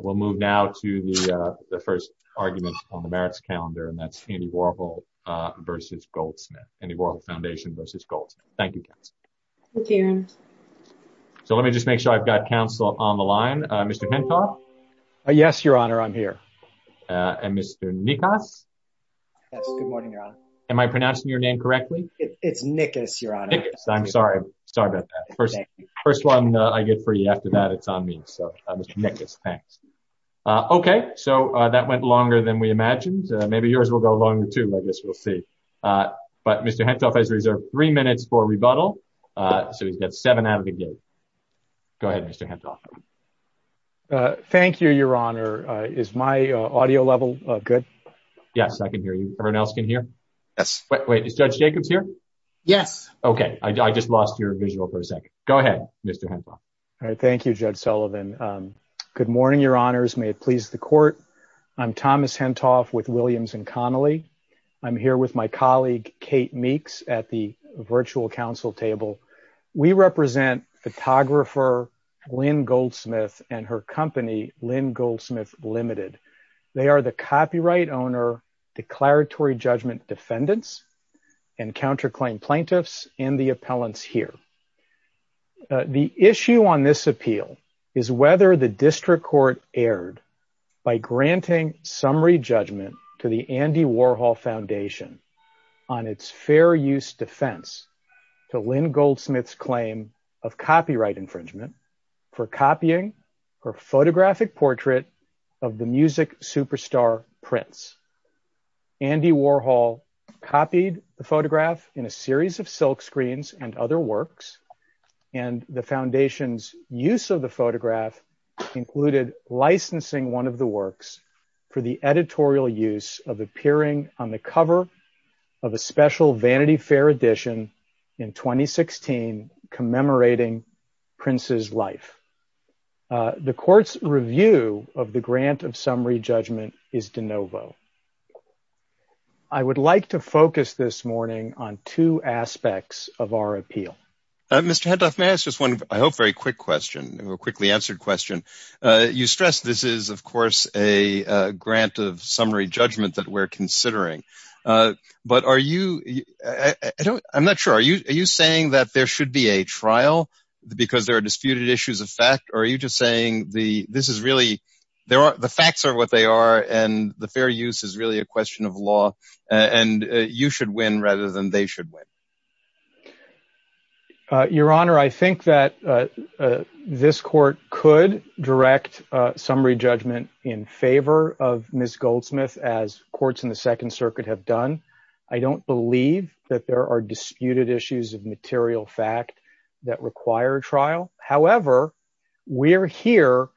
We'll move now to the first argument on the merits calendar and that's Andy Warhol versus Goldsmith. Andy Warhol Foundation versus Goldsmith. Thank you, Councilor. Thank you, Aaron. So let me just make sure I've got Council on the line. Mr. Pintoff? Yes, Your Honor, I'm here. And Mr. Nikas? Yes, good morning, Your Honor. Am I pronouncing your name correctly? It's Nikas, Your Honor. Nikas, I'm sorry. Sorry about that. First one I get for you after that, it's on me. Mr. Nikas, thanks. Okay, so that went longer than we imagined. Maybe yours will go longer, too. I guess we'll see. But Mr. Pintoff has reserved three minutes for rebuttal, so he's got seven out of the gate. Go ahead, Mr. Pintoff. Thank you, Your Honor. Is my audio level good? Yes, I can hear you. Everyone else can hear? Yes. Wait, is Judge Jacobs here? Yes. Okay, I just lost your visual for a second. Go ahead, Mr. Pintoff. All right. Thank you, Judge Sullivan. Good morning, Your Honors. May it please the Court. I'm Thomas Pintoff with Williams & Connolly. I'm here with my colleague Kate Meeks at the virtual Council table. We represent photographer Lynn Goldsmith and her company, Lynn Goldsmith Limited. They are the copyright owner, declaratory judgment defendants, and counterclaim plaintiffs and the appellants here. The issue on this appeal is whether the district court erred by granting summary judgment to the Andy Warhol Foundation on its fair use defense to Lynn Goldsmith's claim of copyright infringement for copying her photographic The court's review of the grant of summary judgment is de novo. I would like to focus this morning on two aspects of our appeal. Mr. Pintoff, may I ask just one, I hope, very quick question, a quickly answered question. You stress this is, of course, a grant of summary judgment that we're considering. But are you, I'm not sure, are you saying that there should be a trial because there are disputed issues of fact, or are you just saying this is really, the facts are what they are and the fair use is really a question of law and you should win rather than they should win? Your Honor, I think that this court could direct summary judgment in favor of Ms. Goldsmith as courts in the Second Circuit have done. I don't believe that there are disputed issues of material fact that require trial. However, we're here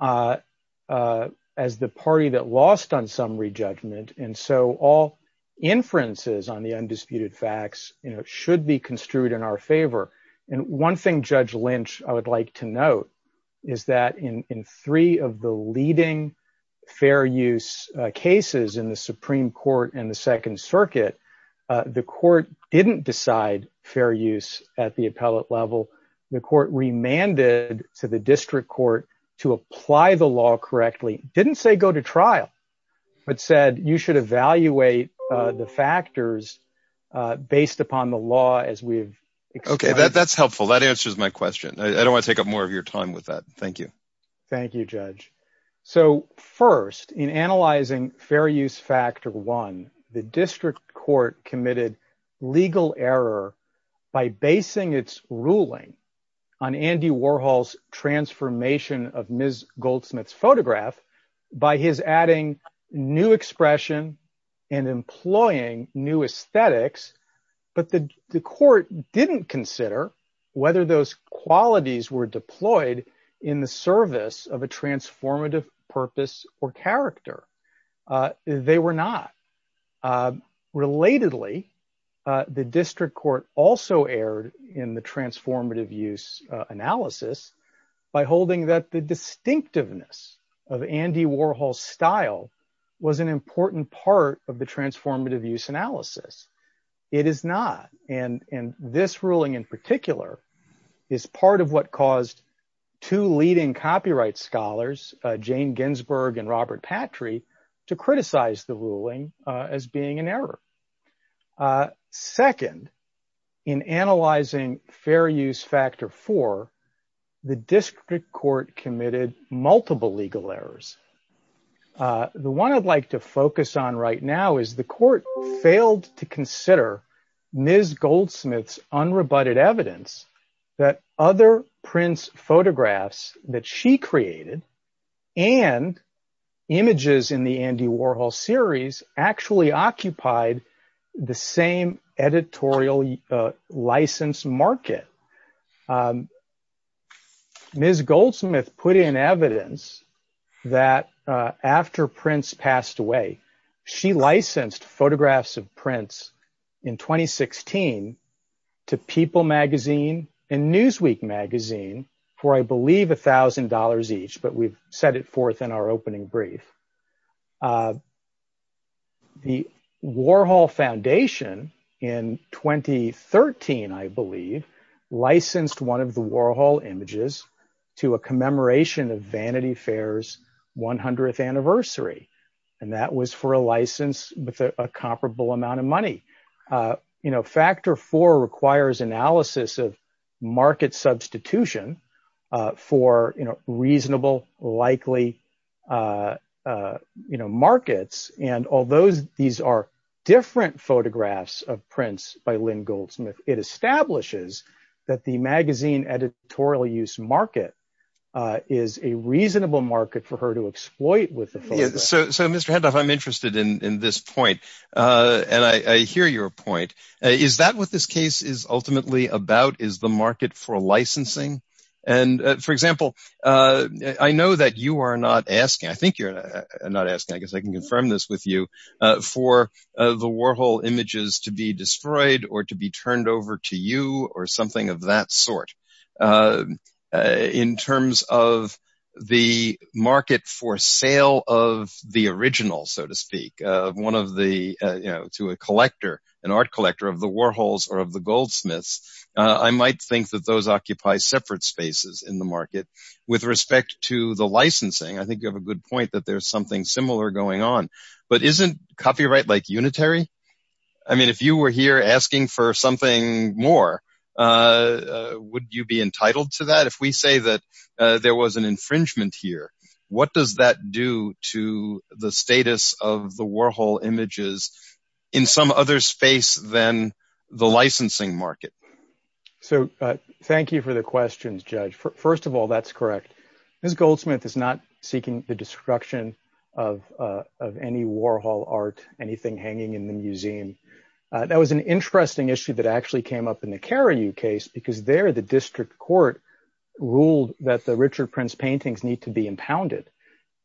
as the party that lost on summary judgment and so all inferences on the undisputed facts should be construed in our favor. And one thing Judge Lynch, I would like to note is that in three of the leading fair use cases in the Supreme Court and the Second Circuit, the court didn't decide fair use at the appellate level. The court remanded to the district court to apply the law correctly, didn't say go to trial, but said you should evaluate the factors based upon the law as we've explained. Okay, that's helpful. That answers my question. I don't want to take up more of your time with that. Thank you. Thank you, Judge. So first, in analyzing fair use factor one, the district court committed legal error by basing its ruling on Andy Warhol's transformation of Ms. Goldsmith's photograph by his adding new expression and employing new aesthetics. But the court didn't consider whether those qualities were deployed in the service of a transformative purpose or character. They were not. Relatedly, the district court also erred in the transformative use analysis by holding that the distinctiveness of Andy Warhol's style was an important part of the transformative use analysis. It is not. And this ruling in particular is part of what caused two leading copyright scholars, Jane Ginsburg and Robert Patry, to criticize the ruling as being an error. Second, in analyzing fair use factor four, the district court committed multiple legal errors. The one I'd like to focus on right now is the court failed to consider Ms. Goldsmith's unrebutted evidence that other prints photographs that she created and images in the Andy Warhol series actually occupied the same editorial license market. Ms. Goldsmith put in evidence that after Prince passed away, she licensed photographs of Prince in 2016 to People magazine and Newsweek magazine for, I believe, a thousand dollars each. But we've set it forth in our opening brief. The Warhol Foundation in 2013, I believe, licensed one of the Warhol images to a commemoration of Vanity Fair's 100th anniversary. And that was for a license with a comparable amount of money. You know, factor four requires analysis of market substitution for reasonable, likely markets. And although these are different photographs of Goldsmith, it establishes that the magazine editorial use market is a reasonable market for her to exploit with the photograph. So, Mr. Heddoff, I'm interested in this point. And I hear your point. Is that what this case is ultimately about? Is the market for licensing? And for example, I know that you are not asking, I think you're not asking, I guess I can confirm this with you, for the Warhol images to be destroyed or to be turned over to you or something of that sort. In terms of the market for sale of the original, so to speak, one of the, you know, to a collector, an art collector of the Warhols or of the Goldsmiths, I might think that those occupy separate spaces in the market. With respect to the licensing, I think you have a good point that there's something similar going on, but isn't copyright like unitary? I mean, if you were here asking for something more, would you be entitled to that? If we say that there was an infringement here, what does that do to the status of the Warhol images in some other space than the licensing market? So, thank you for the questions, Judge. First of all, that's correct. Ms. Goldsmith is not seeking the destruction of any Warhol art, anything hanging in the museum. That was an interesting issue that actually came up in the Carriou case, because there the district court ruled that the Richard Prince paintings need to be impounded.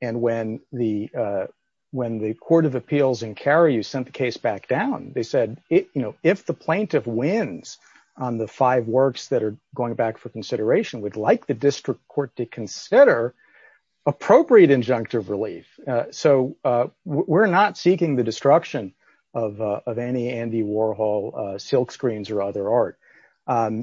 And when the Court of Appeals in Carriou sent the case back down, they said, you know, if the plaintiff wins on the five works that are going back for consideration, we'd like the district court to consider appropriate injunctive relief. So, we're not seeking the destruction of any Andy Warhol silkscreens or other art.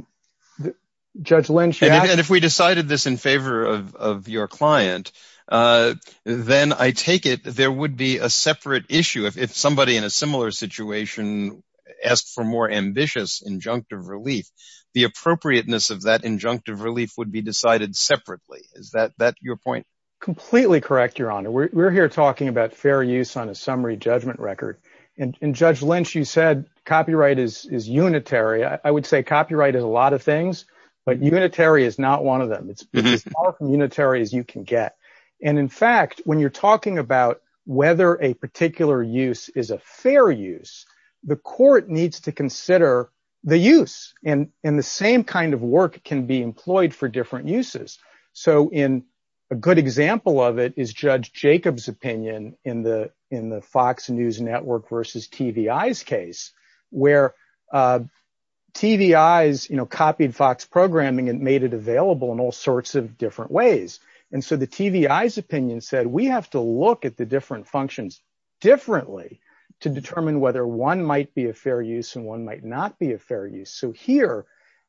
Judge Lynch. And if we decided this in favor of your client, then I take it there would be a separate issue if somebody in a similar situation asked for more ambitious injunctive relief. The appropriateness of that injunctive relief would be decided separately. Is that your point? Completely correct, Your Honor. We're here talking about fair use on a summary judgment record. And Judge Lynch, you said copyright is unitary. I would say copyright is a lot of things, but unitary is not one of them. It's as far from unitary as you can get. And in fact, when you're talking about whether a particular use is a fair use, the court needs to consider the use. And the same kind of work can be employed for different uses. So, a good example of it is Judge Jacob's opinion in the Fox News Network versus TVI's case, where TVI's copied Fox programming and made it available in all sorts of different ways. And so, the TVI's opinion said, we have to look at the different functions differently to determine whether one might be a fair use and one might not be a fair use. So here,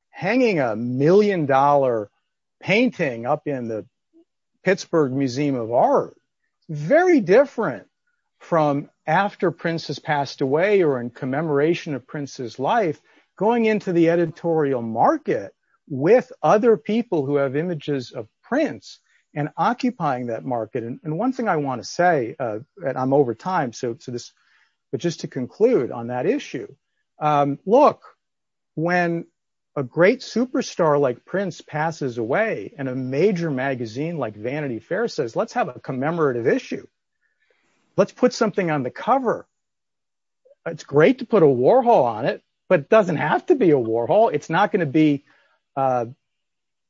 hanging a million-dollar painting up in the Pittsburgh Museum of Art, very different from after Prince has passed away or in commemoration of Prince's life, going into the editorial market with other people who have images of Prince and I want to say, and I'm over time, but just to conclude on that issue, look, when a great superstar like Prince passes away and a major magazine like Vanity Fair says, let's have a commemorative issue, let's put something on the cover. It's great to put a warhole on it, but it doesn't have to be a warhole. It's not going to be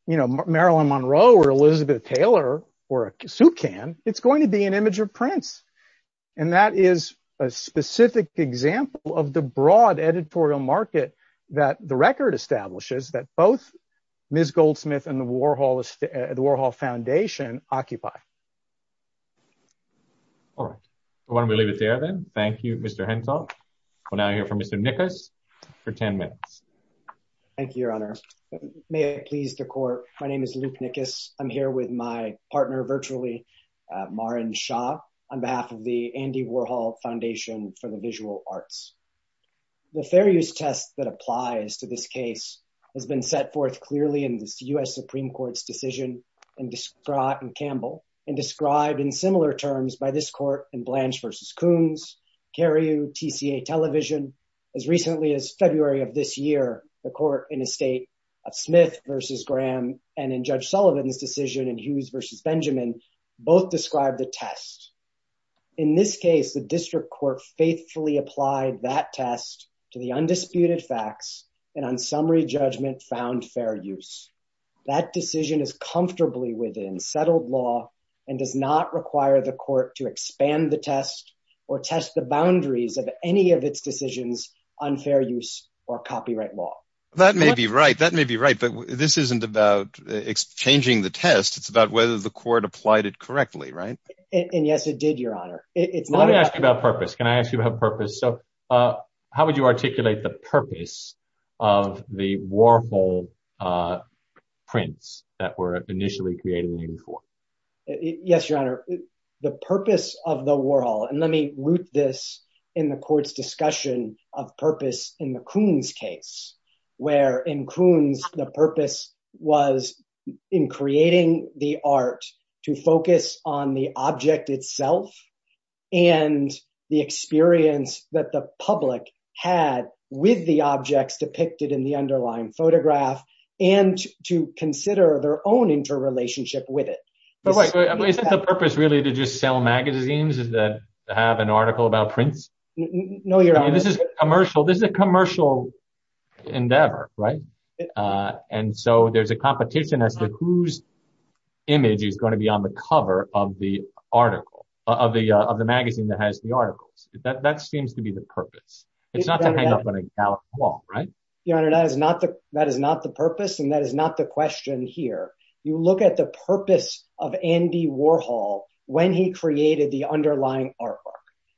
Marilyn Monroe or Elizabeth Taylor or a suet can, it's going to be an image of Prince. And that is a specific example of the broad editorial market that the record establishes that both Ms. Goldsmith and the Warhol Foundation occupy. All right. Why don't we leave it there then? Thank you, Mr. Hentoff. We'll now hear from Mr. Nickus for 10 minutes. Thank you, Your Honor. May it please the court, my name is Luke Nickus. I'm here with my partner virtually, Maren Shah, on behalf of the Andy Warhol Foundation for the Visual Arts. The fair use test that applies to this case has been set forth clearly in the U.S. Supreme Court's decision in Campbell and described in similar terms by this court in Blanche v. Coons, Carey TCA Television, as recently as February of this year, the court in a state of Smith v. Graham and in Judge Sullivan's decision in Hughes v. Benjamin, both described the test. In this case, the district court faithfully applied that test to the undisputed facts and on summary judgment found fair use. That decision is comfortably within settled law and does not require the court to expand the test or test the boundaries of any of its decisions on fair use or copyright law. That may be right. That may be right. But this isn't about changing the test. It's about whether the court applied it correctly, right? And yes, it did, Your Honor. Let me ask you about purpose. Can I ask you about purpose? So how would you articulate the purpose of the Warhol prints that were initially created? Yes, Your Honor. The purpose of the Warhol, and let me root this in the court's discussion of purpose in the Coons case, where in Coons, the purpose was in creating the art to focus on the object itself and the experience that the public had with the objects depicted in the underlying Isn't the purpose really to just sell magazines that have an article about prints? No, Your Honor. This is a commercial endeavor, right? And so there's a competition as to whose image is going to be on the cover of the article, of the magazine that has the articles. That seems to be the purpose. It's not to hang up on a gallant wall, right? Your Honor, that is not the purpose and that is not the question here. You look at the purpose of Andy Warhol when he created the underlying artwork.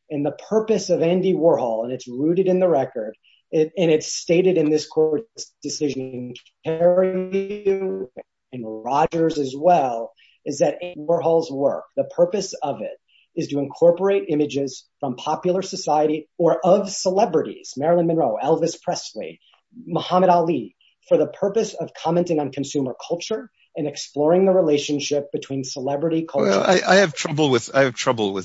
And the purpose of Andy Warhol, and it's rooted in the record, and it's stated in this court's decision, and Rogers as well, is that Warhol's work, the purpose of it is to incorporate images from popular society or of celebrities, Marilyn Monroe, Elvis Presley, Muhammad Ali, for the purpose of commenting on consumer culture and exploring the relationship between celebrity culture. I have trouble with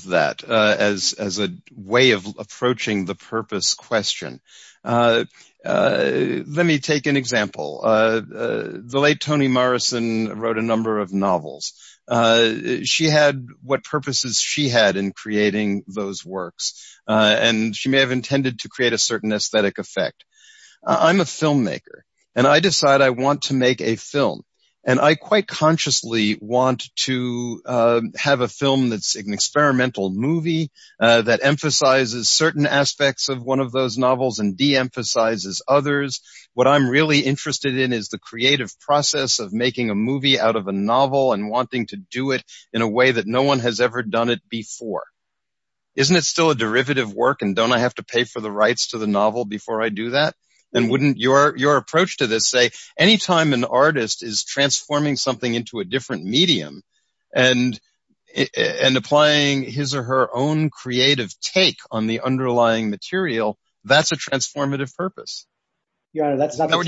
that as a way of approaching the purpose question. Let me take an example. The late Toni Morrison wrote a number of novels. She had what purposes she had in creating those works. And she may have intended to create a certain aesthetic effect. I'm a filmmaker, and I decide I want to make a film. And I quite consciously want to have a film that's an experimental movie that emphasizes certain aspects of one of those novels and de-emphasizes others. What I'm really interested in is the creative process of making a movie out of a novel and wanting to do it in a way that no one has ever done it before. Isn't it still a wouldn't your approach to this say, anytime an artist is transforming something into a different medium and applying his or her own creative take on the underlying material, that's a transformative purpose? Your Honor, that's not the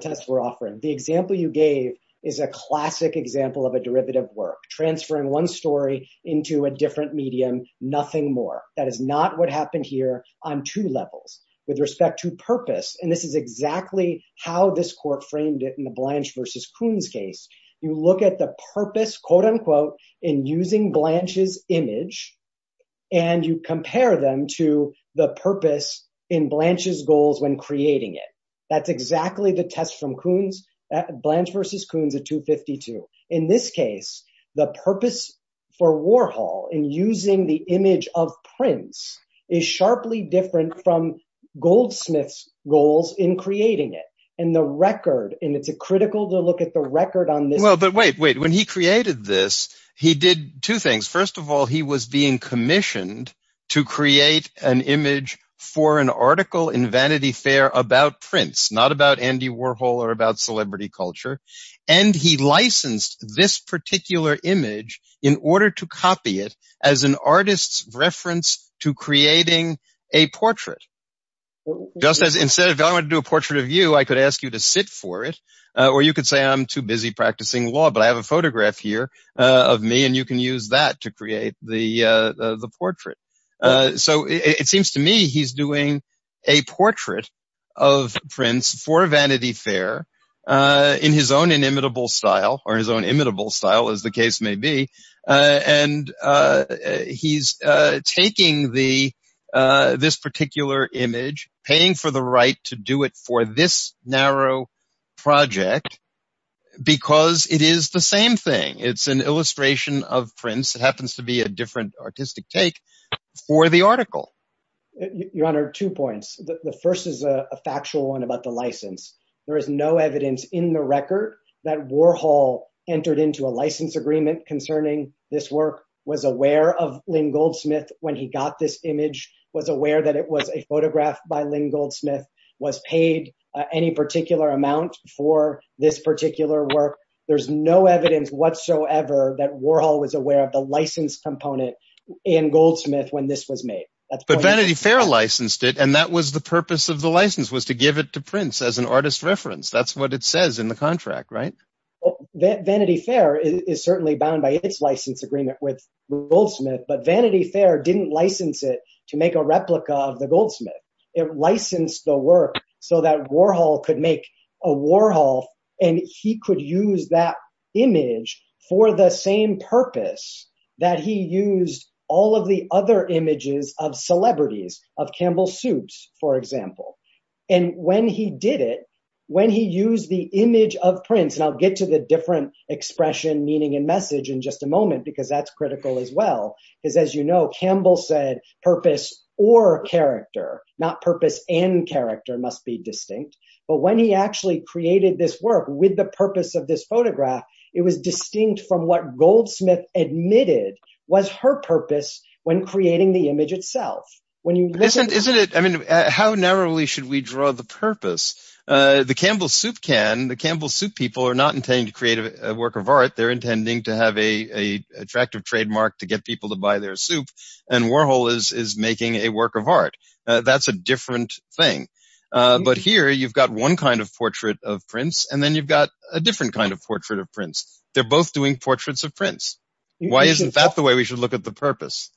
test we're offering. The example you gave is a classic example of a derivative work, transferring one story into a different medium, nothing more. That is not what happened here on two levels. With respect to purpose, and this is exactly how this court framed it in the Blanche versus Coons case. You look at the purpose, quote unquote, in using Blanche's image, and you compare them to the purpose in Blanche's goals when creating it. That's exactly the test from Coons, Blanche versus Coons at 252. In this case, the purpose for Warhol in using the image of Prince is sharply different from Goldsmith's goals in creating it. And the record, and it's a critical to look at the record on this. Well, but wait, wait, when he created this, he did two things. First of all, he was being commissioned to create an image for an article in Vanity Fair about Prince, not about Andy Warhol or about celebrity culture. And he licensed this particular image in order to copy it as an artist's reference to creating a portrait. Just as instead of going to do a portrait of you, I could ask you to sit for it, or you could say I'm too busy practicing law, but I have a photograph here of me and you can use that to create the portrait. So it seems to me he's doing a portrait of Prince for Vanity Fair in his own inimitable style, or his own imitable style as the case may be. And he's taking this particular image, paying for the right to do it for this narrow project, because it is the same thing. It's an illustration of Prince. It happens to be a different artistic take for the article. Your Honor, two points. The first is a factual one about the license. There is no evidence in the record that Warhol entered into a license agreement concerning this work, was aware of Lynn Goldsmith when he got this image, was aware that it was a photograph by Lynn Goldsmith, was paid any particular amount for this particular work. There's no evidence whatsoever that Warhol was aware of the license component in Goldsmith when this was made. But Vanity Fair licensed it, and that was the purpose of the license, was to give it to Prince as an artist reference. That's what it says in the contract, right? Vanity Fair is certainly bound by its license agreement with Goldsmith, but Vanity Fair didn't license it to make a replica of the image for the same purpose that he used all of the other images of celebrities, of Campbell Supes, for example. And when he did it, when he used the image of Prince, and I'll get to the different expression, meaning, and message in just a moment, because that's critical as well, because as you know, Campbell said purpose or character, not purpose and character must be distinct from what Goldsmith admitted was her purpose when creating the image itself. Isn't it, I mean, how narrowly should we draw the purpose? The Campbell Soup can, the Campbell Soup people are not intending to create a work of art, they're intending to have a attractive trademark to get people to buy their soup, and Warhol is making a work of art. That's a different thing. But here you've got one kind of portrait of Prince, and then you've got a different kind portrait of Prince. They're both doing portraits of Prince. Why isn't that the way we should look at the purpose?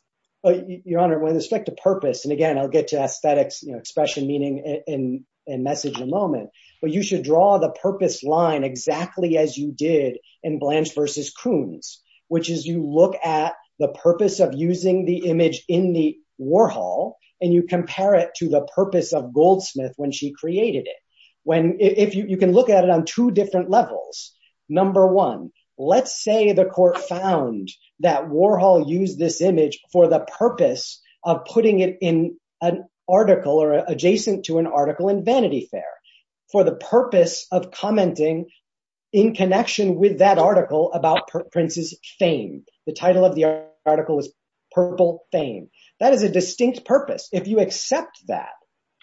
Your Honor, with respect to purpose, and again, I'll get to aesthetics, you know, expression, meaning, and message in a moment, but you should draw the purpose line exactly as you did in Blanche versus Kuhn's, which is you look at the purpose of using the image in the Warhol, and you compare it to the purpose of Goldsmith when she created it. When, if you can look at it on two different levels, number one, let's say the Court found that Warhol used this image for the purpose of putting it in an article, or adjacent to an article in Vanity Fair, for the purpose of commenting in connection with that article about Prince's fame. The title of the article is Purple Fame. That is a distinct purpose. If you accept that,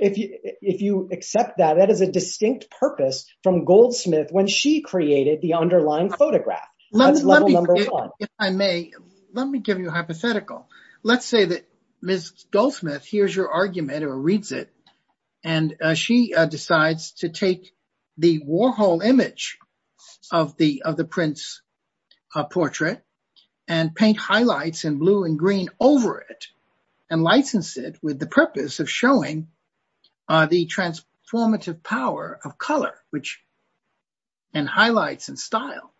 if you accept that, that is a distinct purpose from Goldsmith when she created the underlying photograph. That's level number one. If I may, let me give you a hypothetical. Let's say that Ms. Goldsmith hears your argument, or reads it, and she decides to take the Warhol image of the Prince portrait, and paint highlights in blue and green over it, and license it with the purpose of showing the transformative power of color, and highlights, and style.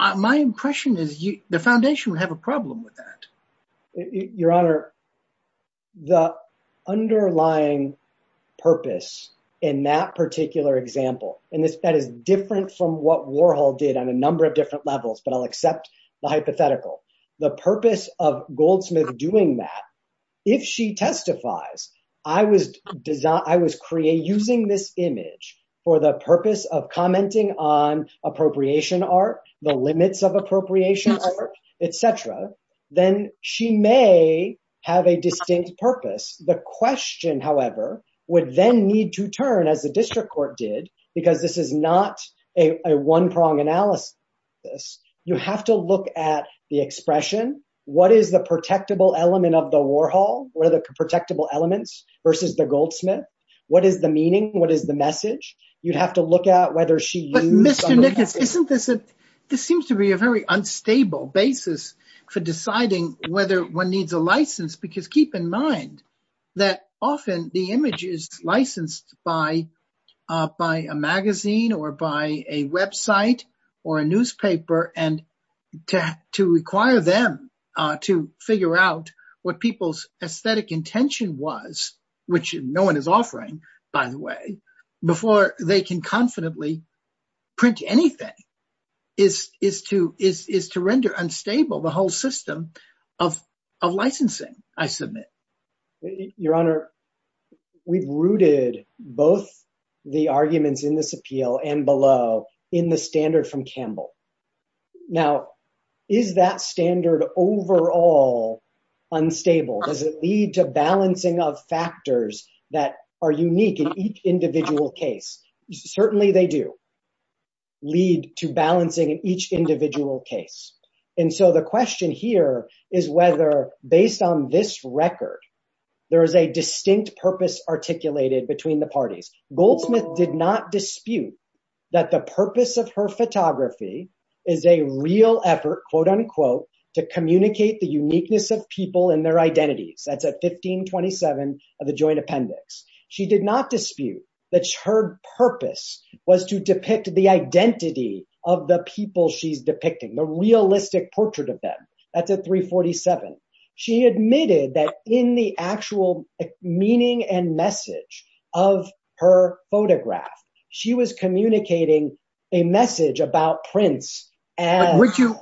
My impression is the Foundation would have a problem with that. Your Honor, the underlying purpose in that particular example, and that is different from what Warhol did on a number of different levels, but I'll accept the hypothetical. The purpose of Goldsmith doing that, if she testifies, I was using this image for the purpose of commenting on appropriation art, the limits of appropriation art, etc., then she may have a distinct purpose. The question, however, would then need to turn, as the District expression, what is the protectable element of the Warhol? What are the protectable elements versus the Goldsmith? What is the meaning? What is the message? You'd have to look at whether she used some of that. But Mr. Nickens, isn't this, this seems to be a very unstable basis for deciding whether one needs a license, because keep in mind that often the image is licensed by a magazine, or by a website, or a newspaper, and to require them to figure out what people's aesthetic intention was, which no one is offering, by the way, before they can confidently print anything, is to render unstable the whole system of licensing, I submit. Your Honor, we've rooted both the arguments in this appeal and below in the standard from Campbell. Now, is that standard overall unstable? Does it lead to balancing of factors that are unique in each individual case? Certainly they do lead to balancing in each individual case. And so the record, there is a distinct purpose articulated between the parties. Goldsmith did not dispute that the purpose of her photography is a real effort, quote unquote, to communicate the uniqueness of people and their identities. That's at 1527 of the Joint Appendix. She did not dispute that her purpose was to depict the identity of the people she's depicting, the realistic portrait of them. That's at 347. She admitted that in the actual meaning and message of her photograph, she was communicating a message about prints.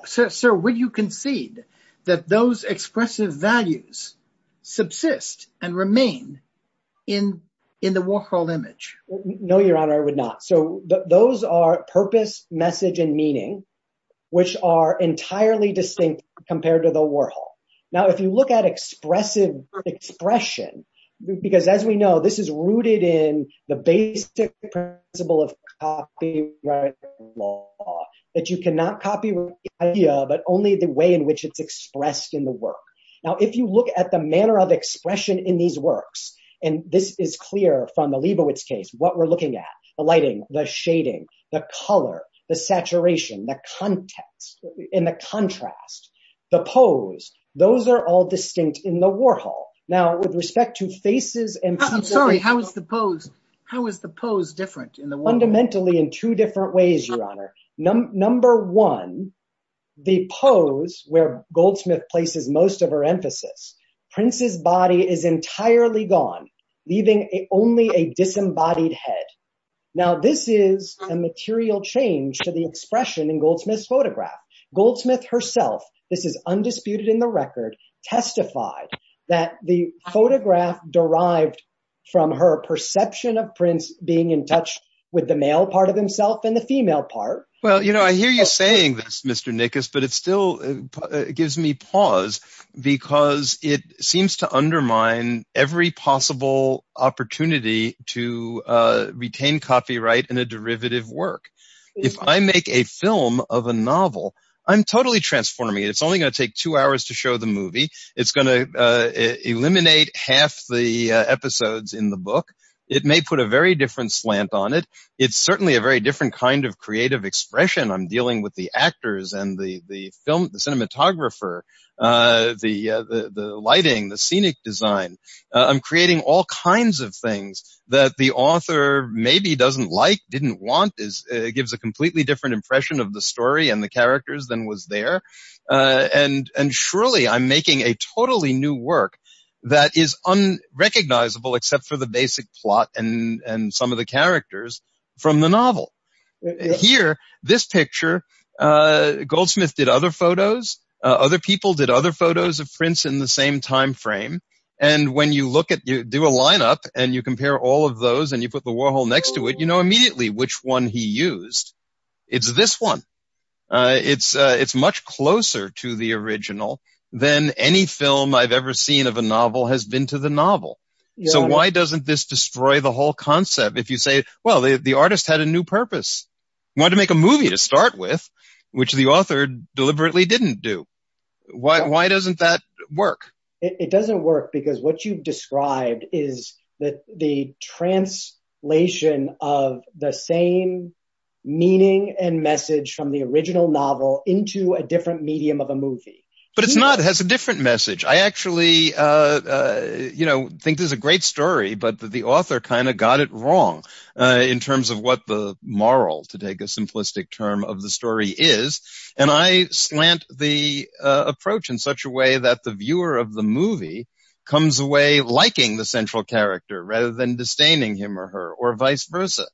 Sir, would you concede that those expressive values subsist and remain in the Warhol image? No, Your Honor, I would not. So those are purpose, message, and meaning, which are entirely distinct compared to the Warhol. Now, if you look at expressive expression, because as we know, this is rooted in the basic principle of copyright law, that you cannot copy the idea, but only the way in which it's expressed in the work. Now, if you look at the manner of expression in these works, and this is clear from the Leibowitz case, what we're looking at, the lighting, the shading, the color, the saturation, the context, and the contrast, the pose, those are all distinct in the Warhol. Now, with respect to faces and- I'm sorry, how is the pose different in the Warhol? Fundamentally in two different ways, Your Honor. Number one, the pose, where Goldsmith places most of her emphasis, Prince's body is entirely gone, leaving only a disembodied head. Now, this is a material change to the expression in Goldsmith's photograph. Goldsmith herself, this is undisputed in the record, testified that the photograph derived from her perception of Prince being in touch with the male part of himself and the female part. Well, you know, I hear you saying this, Mr. Nickus, but it still gives me pause because it gives me a whole opportunity to retain copyright in a derivative work. If I make a film of a novel, I'm totally transforming it. It's only going to take two hours to show the movie. It's going to eliminate half the episodes in the book. It may put a very different slant on it. It's certainly a very different kind of creative expression. I'm dealing with the actors and the film, the cinematographer, the lighting, the scenic design. I'm creating all kinds of things that the author maybe doesn't like, didn't want. It gives a completely different impression of the story and the characters than was there. And surely I'm making a totally new work that is unrecognizable except for the basic plot and some of the characters from the novel. Here, this picture, Goldsmith did other photos. Other people did other photos of Prince in the same time frame. And when you do a lineup and you compare all of those and you put the Warhol next to it, you know immediately which one he used. It's this one. It's much closer to the original than any film I've ever seen of a novel has been to the novel. So why doesn't this destroy the concept? If you say, well, the artist had a new purpose. He wanted to make a movie to start with, which the author deliberately didn't do. Why doesn't that work? It doesn't work because what you've described is that the translation of the same meaning and message from the original novel into a different medium of a movie. But it's not. It has a different message. I actually think this is a great story, but the author kind of got it wrong in terms of what the moral, to take a simplistic term, of the story is. And I slant the approach in such a way that the viewer of the movie comes away liking the central character rather than disdaining him or her or vice versa.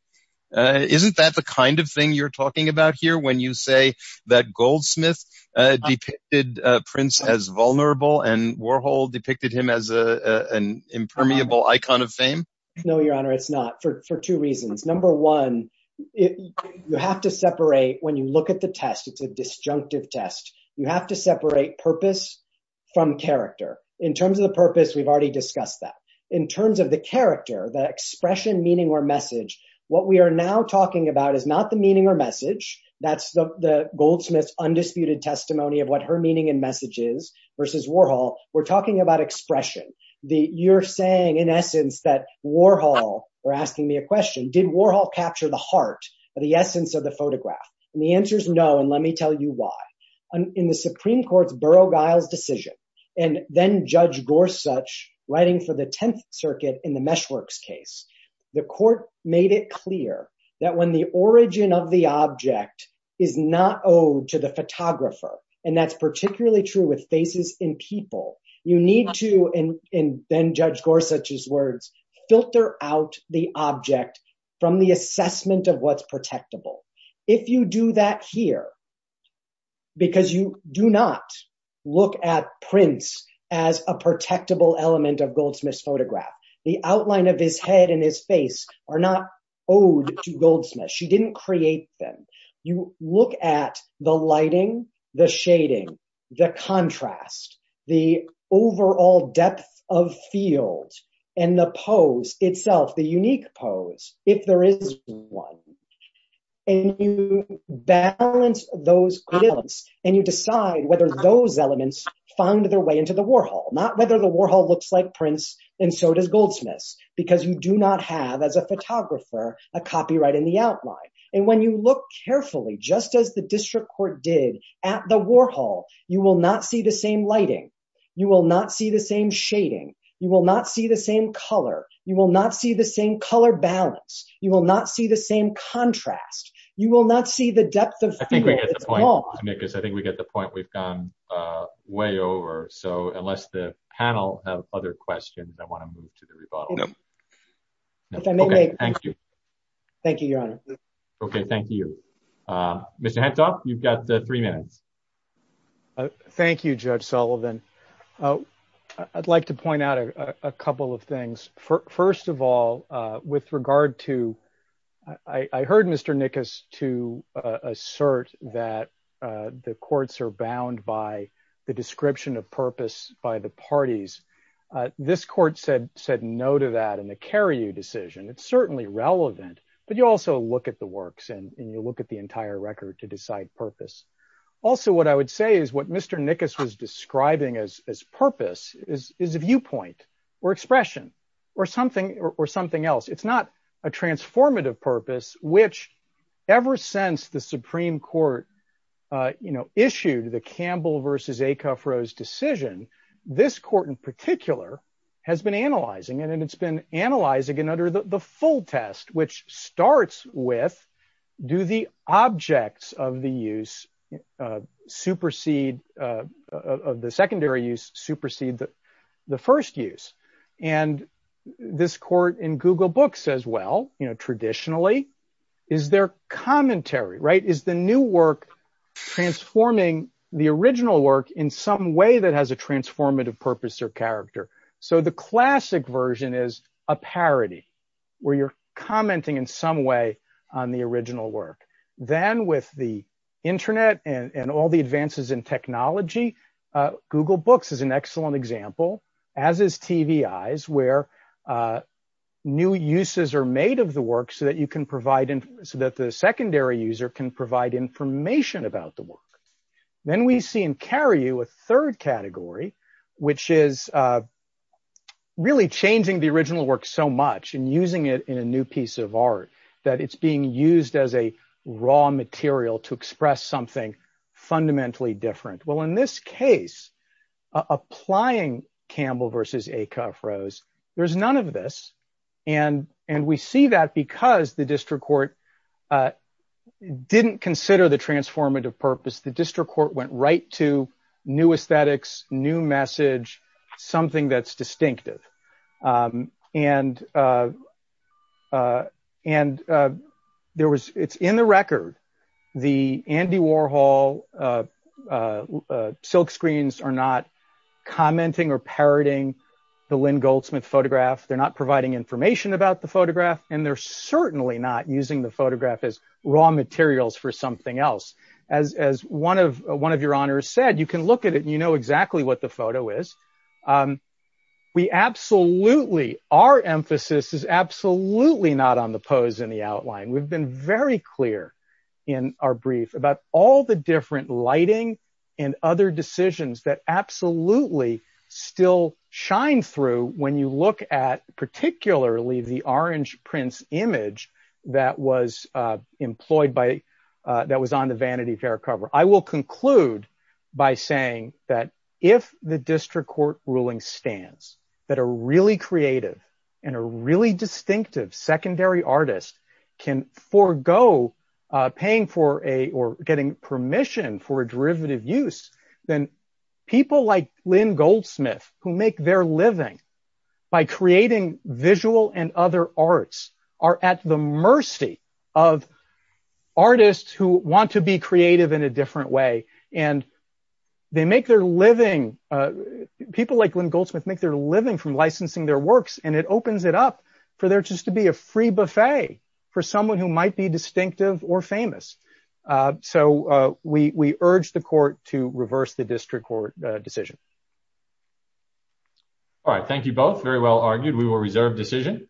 Isn't that the kind of thing you're talking about here when you say that Goldsmith depicted Prince as vulnerable and Warhol depicted him as an impermeable icon of fame? No, Your Honor, it's not for two reasons. Number one, you have to separate when you look at the test, it's a disjunctive test. You have to separate purpose from character. In terms of the purpose, we've already discussed that. In terms of the character, the expression, meaning or message, what we are now talking about is not the meaning or message. That's the Goldsmith's versus Warhol. We're talking about expression. You're saying in essence that Warhol, or asking me a question, did Warhol capture the heart or the essence of the photograph? And the answer is no, and let me tell you why. In the Supreme Court's Burrough-Giles decision, and then Judge Gorsuch writing for the Tenth Circuit in the Meshworks case, the court made it clear that when the origin of the object is not owed to the photographer, and that's particularly true with faces in people, you need to, in then Judge Gorsuch's words, filter out the object from the assessment of what's protectable. If you do that here, because you do not look at prints as a protectable element of Goldsmith's photograph, the outline of his head and his face are not owed to Goldsmith. She didn't create them. You look at the lighting, the shading, the contrast, the overall depth of field, and the pose itself, the unique pose, if there is one, and you balance those elements, and you decide whether those elements found their way into the Warhol. Not whether the Warhol looks like prints, and so does Goldsmith's, because you do not have, as a photographer, a copyright in the outline, and when you look carefully, just as the district court did at the Warhol, you will not see the same lighting. You will not see the same shading. You will not see the same color. You will not see the same color balance. You will not see the same contrast. You will not see the depth of field. I think we get the point. I think we get the point. We've gone way over, so unless the panel have other questions, I want to move to the rebuttal. No. Okay, thank you. Thank you, Your Honor. Okay, thank you. Mr. Hentoff, you've got three minutes. Thank you, Judge Sullivan. I'd like to point out a couple of things. First of all, with regard to, I heard Mr. Nickus to assert that the courts are bound by the description of purpose by the and the Carriou decision. It's certainly relevant, but you also look at the works, and you look at the entire record to decide purpose. Also, what I would say is what Mr. Nickus was describing as purpose is a viewpoint or expression or something else. It's not a transformative purpose, which ever since the Supreme Court issued the Campbell versus Decuff-Rose decision, this court in particular has been analyzing it, and it's been analyzing it under the full test, which starts with, do the objects of the use supersede, of the secondary use supersede the first use? And this court in Google Books says, well, traditionally, is their commentary, right, is the new work transforming the original work in some way that has a transformative purpose or character? So the classic version is a parody, where you're commenting in some way on the original work. Then with the internet and all the advances in technology, Google Books is an excellent example, as is TVEyes, where new uses are made of the work so that you can provide, so that the secondary user can provide information about the work. Then we see in Carrieux a third category, which is really changing the original work so much and using it in a new piece of art that it's being used as a raw material to express something fundamentally different. Well, in this case, applying Campbell versus Decuff-Rose, there's this, and we see that because the district court didn't consider the transformative purpose, the district court went right to new aesthetics, new message, something that's distinctive. And there was, it's in the record, the Andy Warhol silk screens are not commenting or parodying the Lynn Goldsmith photograph. They're not providing information about the photograph, and they're certainly not using the photograph as raw materials for something else. As one of your honors said, you can look at it, you know exactly what the photo is. We absolutely, our emphasis is absolutely not on the pose and the outline. We've been very clear in our brief about all the different lighting and other decisions that absolutely still shine through when you look at particularly the Orange Prince image that was employed by, that was on the Vanity Fair cover. I will conclude by saying that if the district court ruling stands that a really creative and a really distinctive secondary artist can forego paying for a, or getting permission for a derivative use, then people like Lynn Goldsmith who make their living by creating visual and other arts are at the mercy of artists who want to be creative in a from licensing their works, and it opens it up for there just to be a free buffet for someone who might be distinctive or famous. So we urge the court to reverse the district court decision. All right, thank you both. Very well argued. We will reserve decision.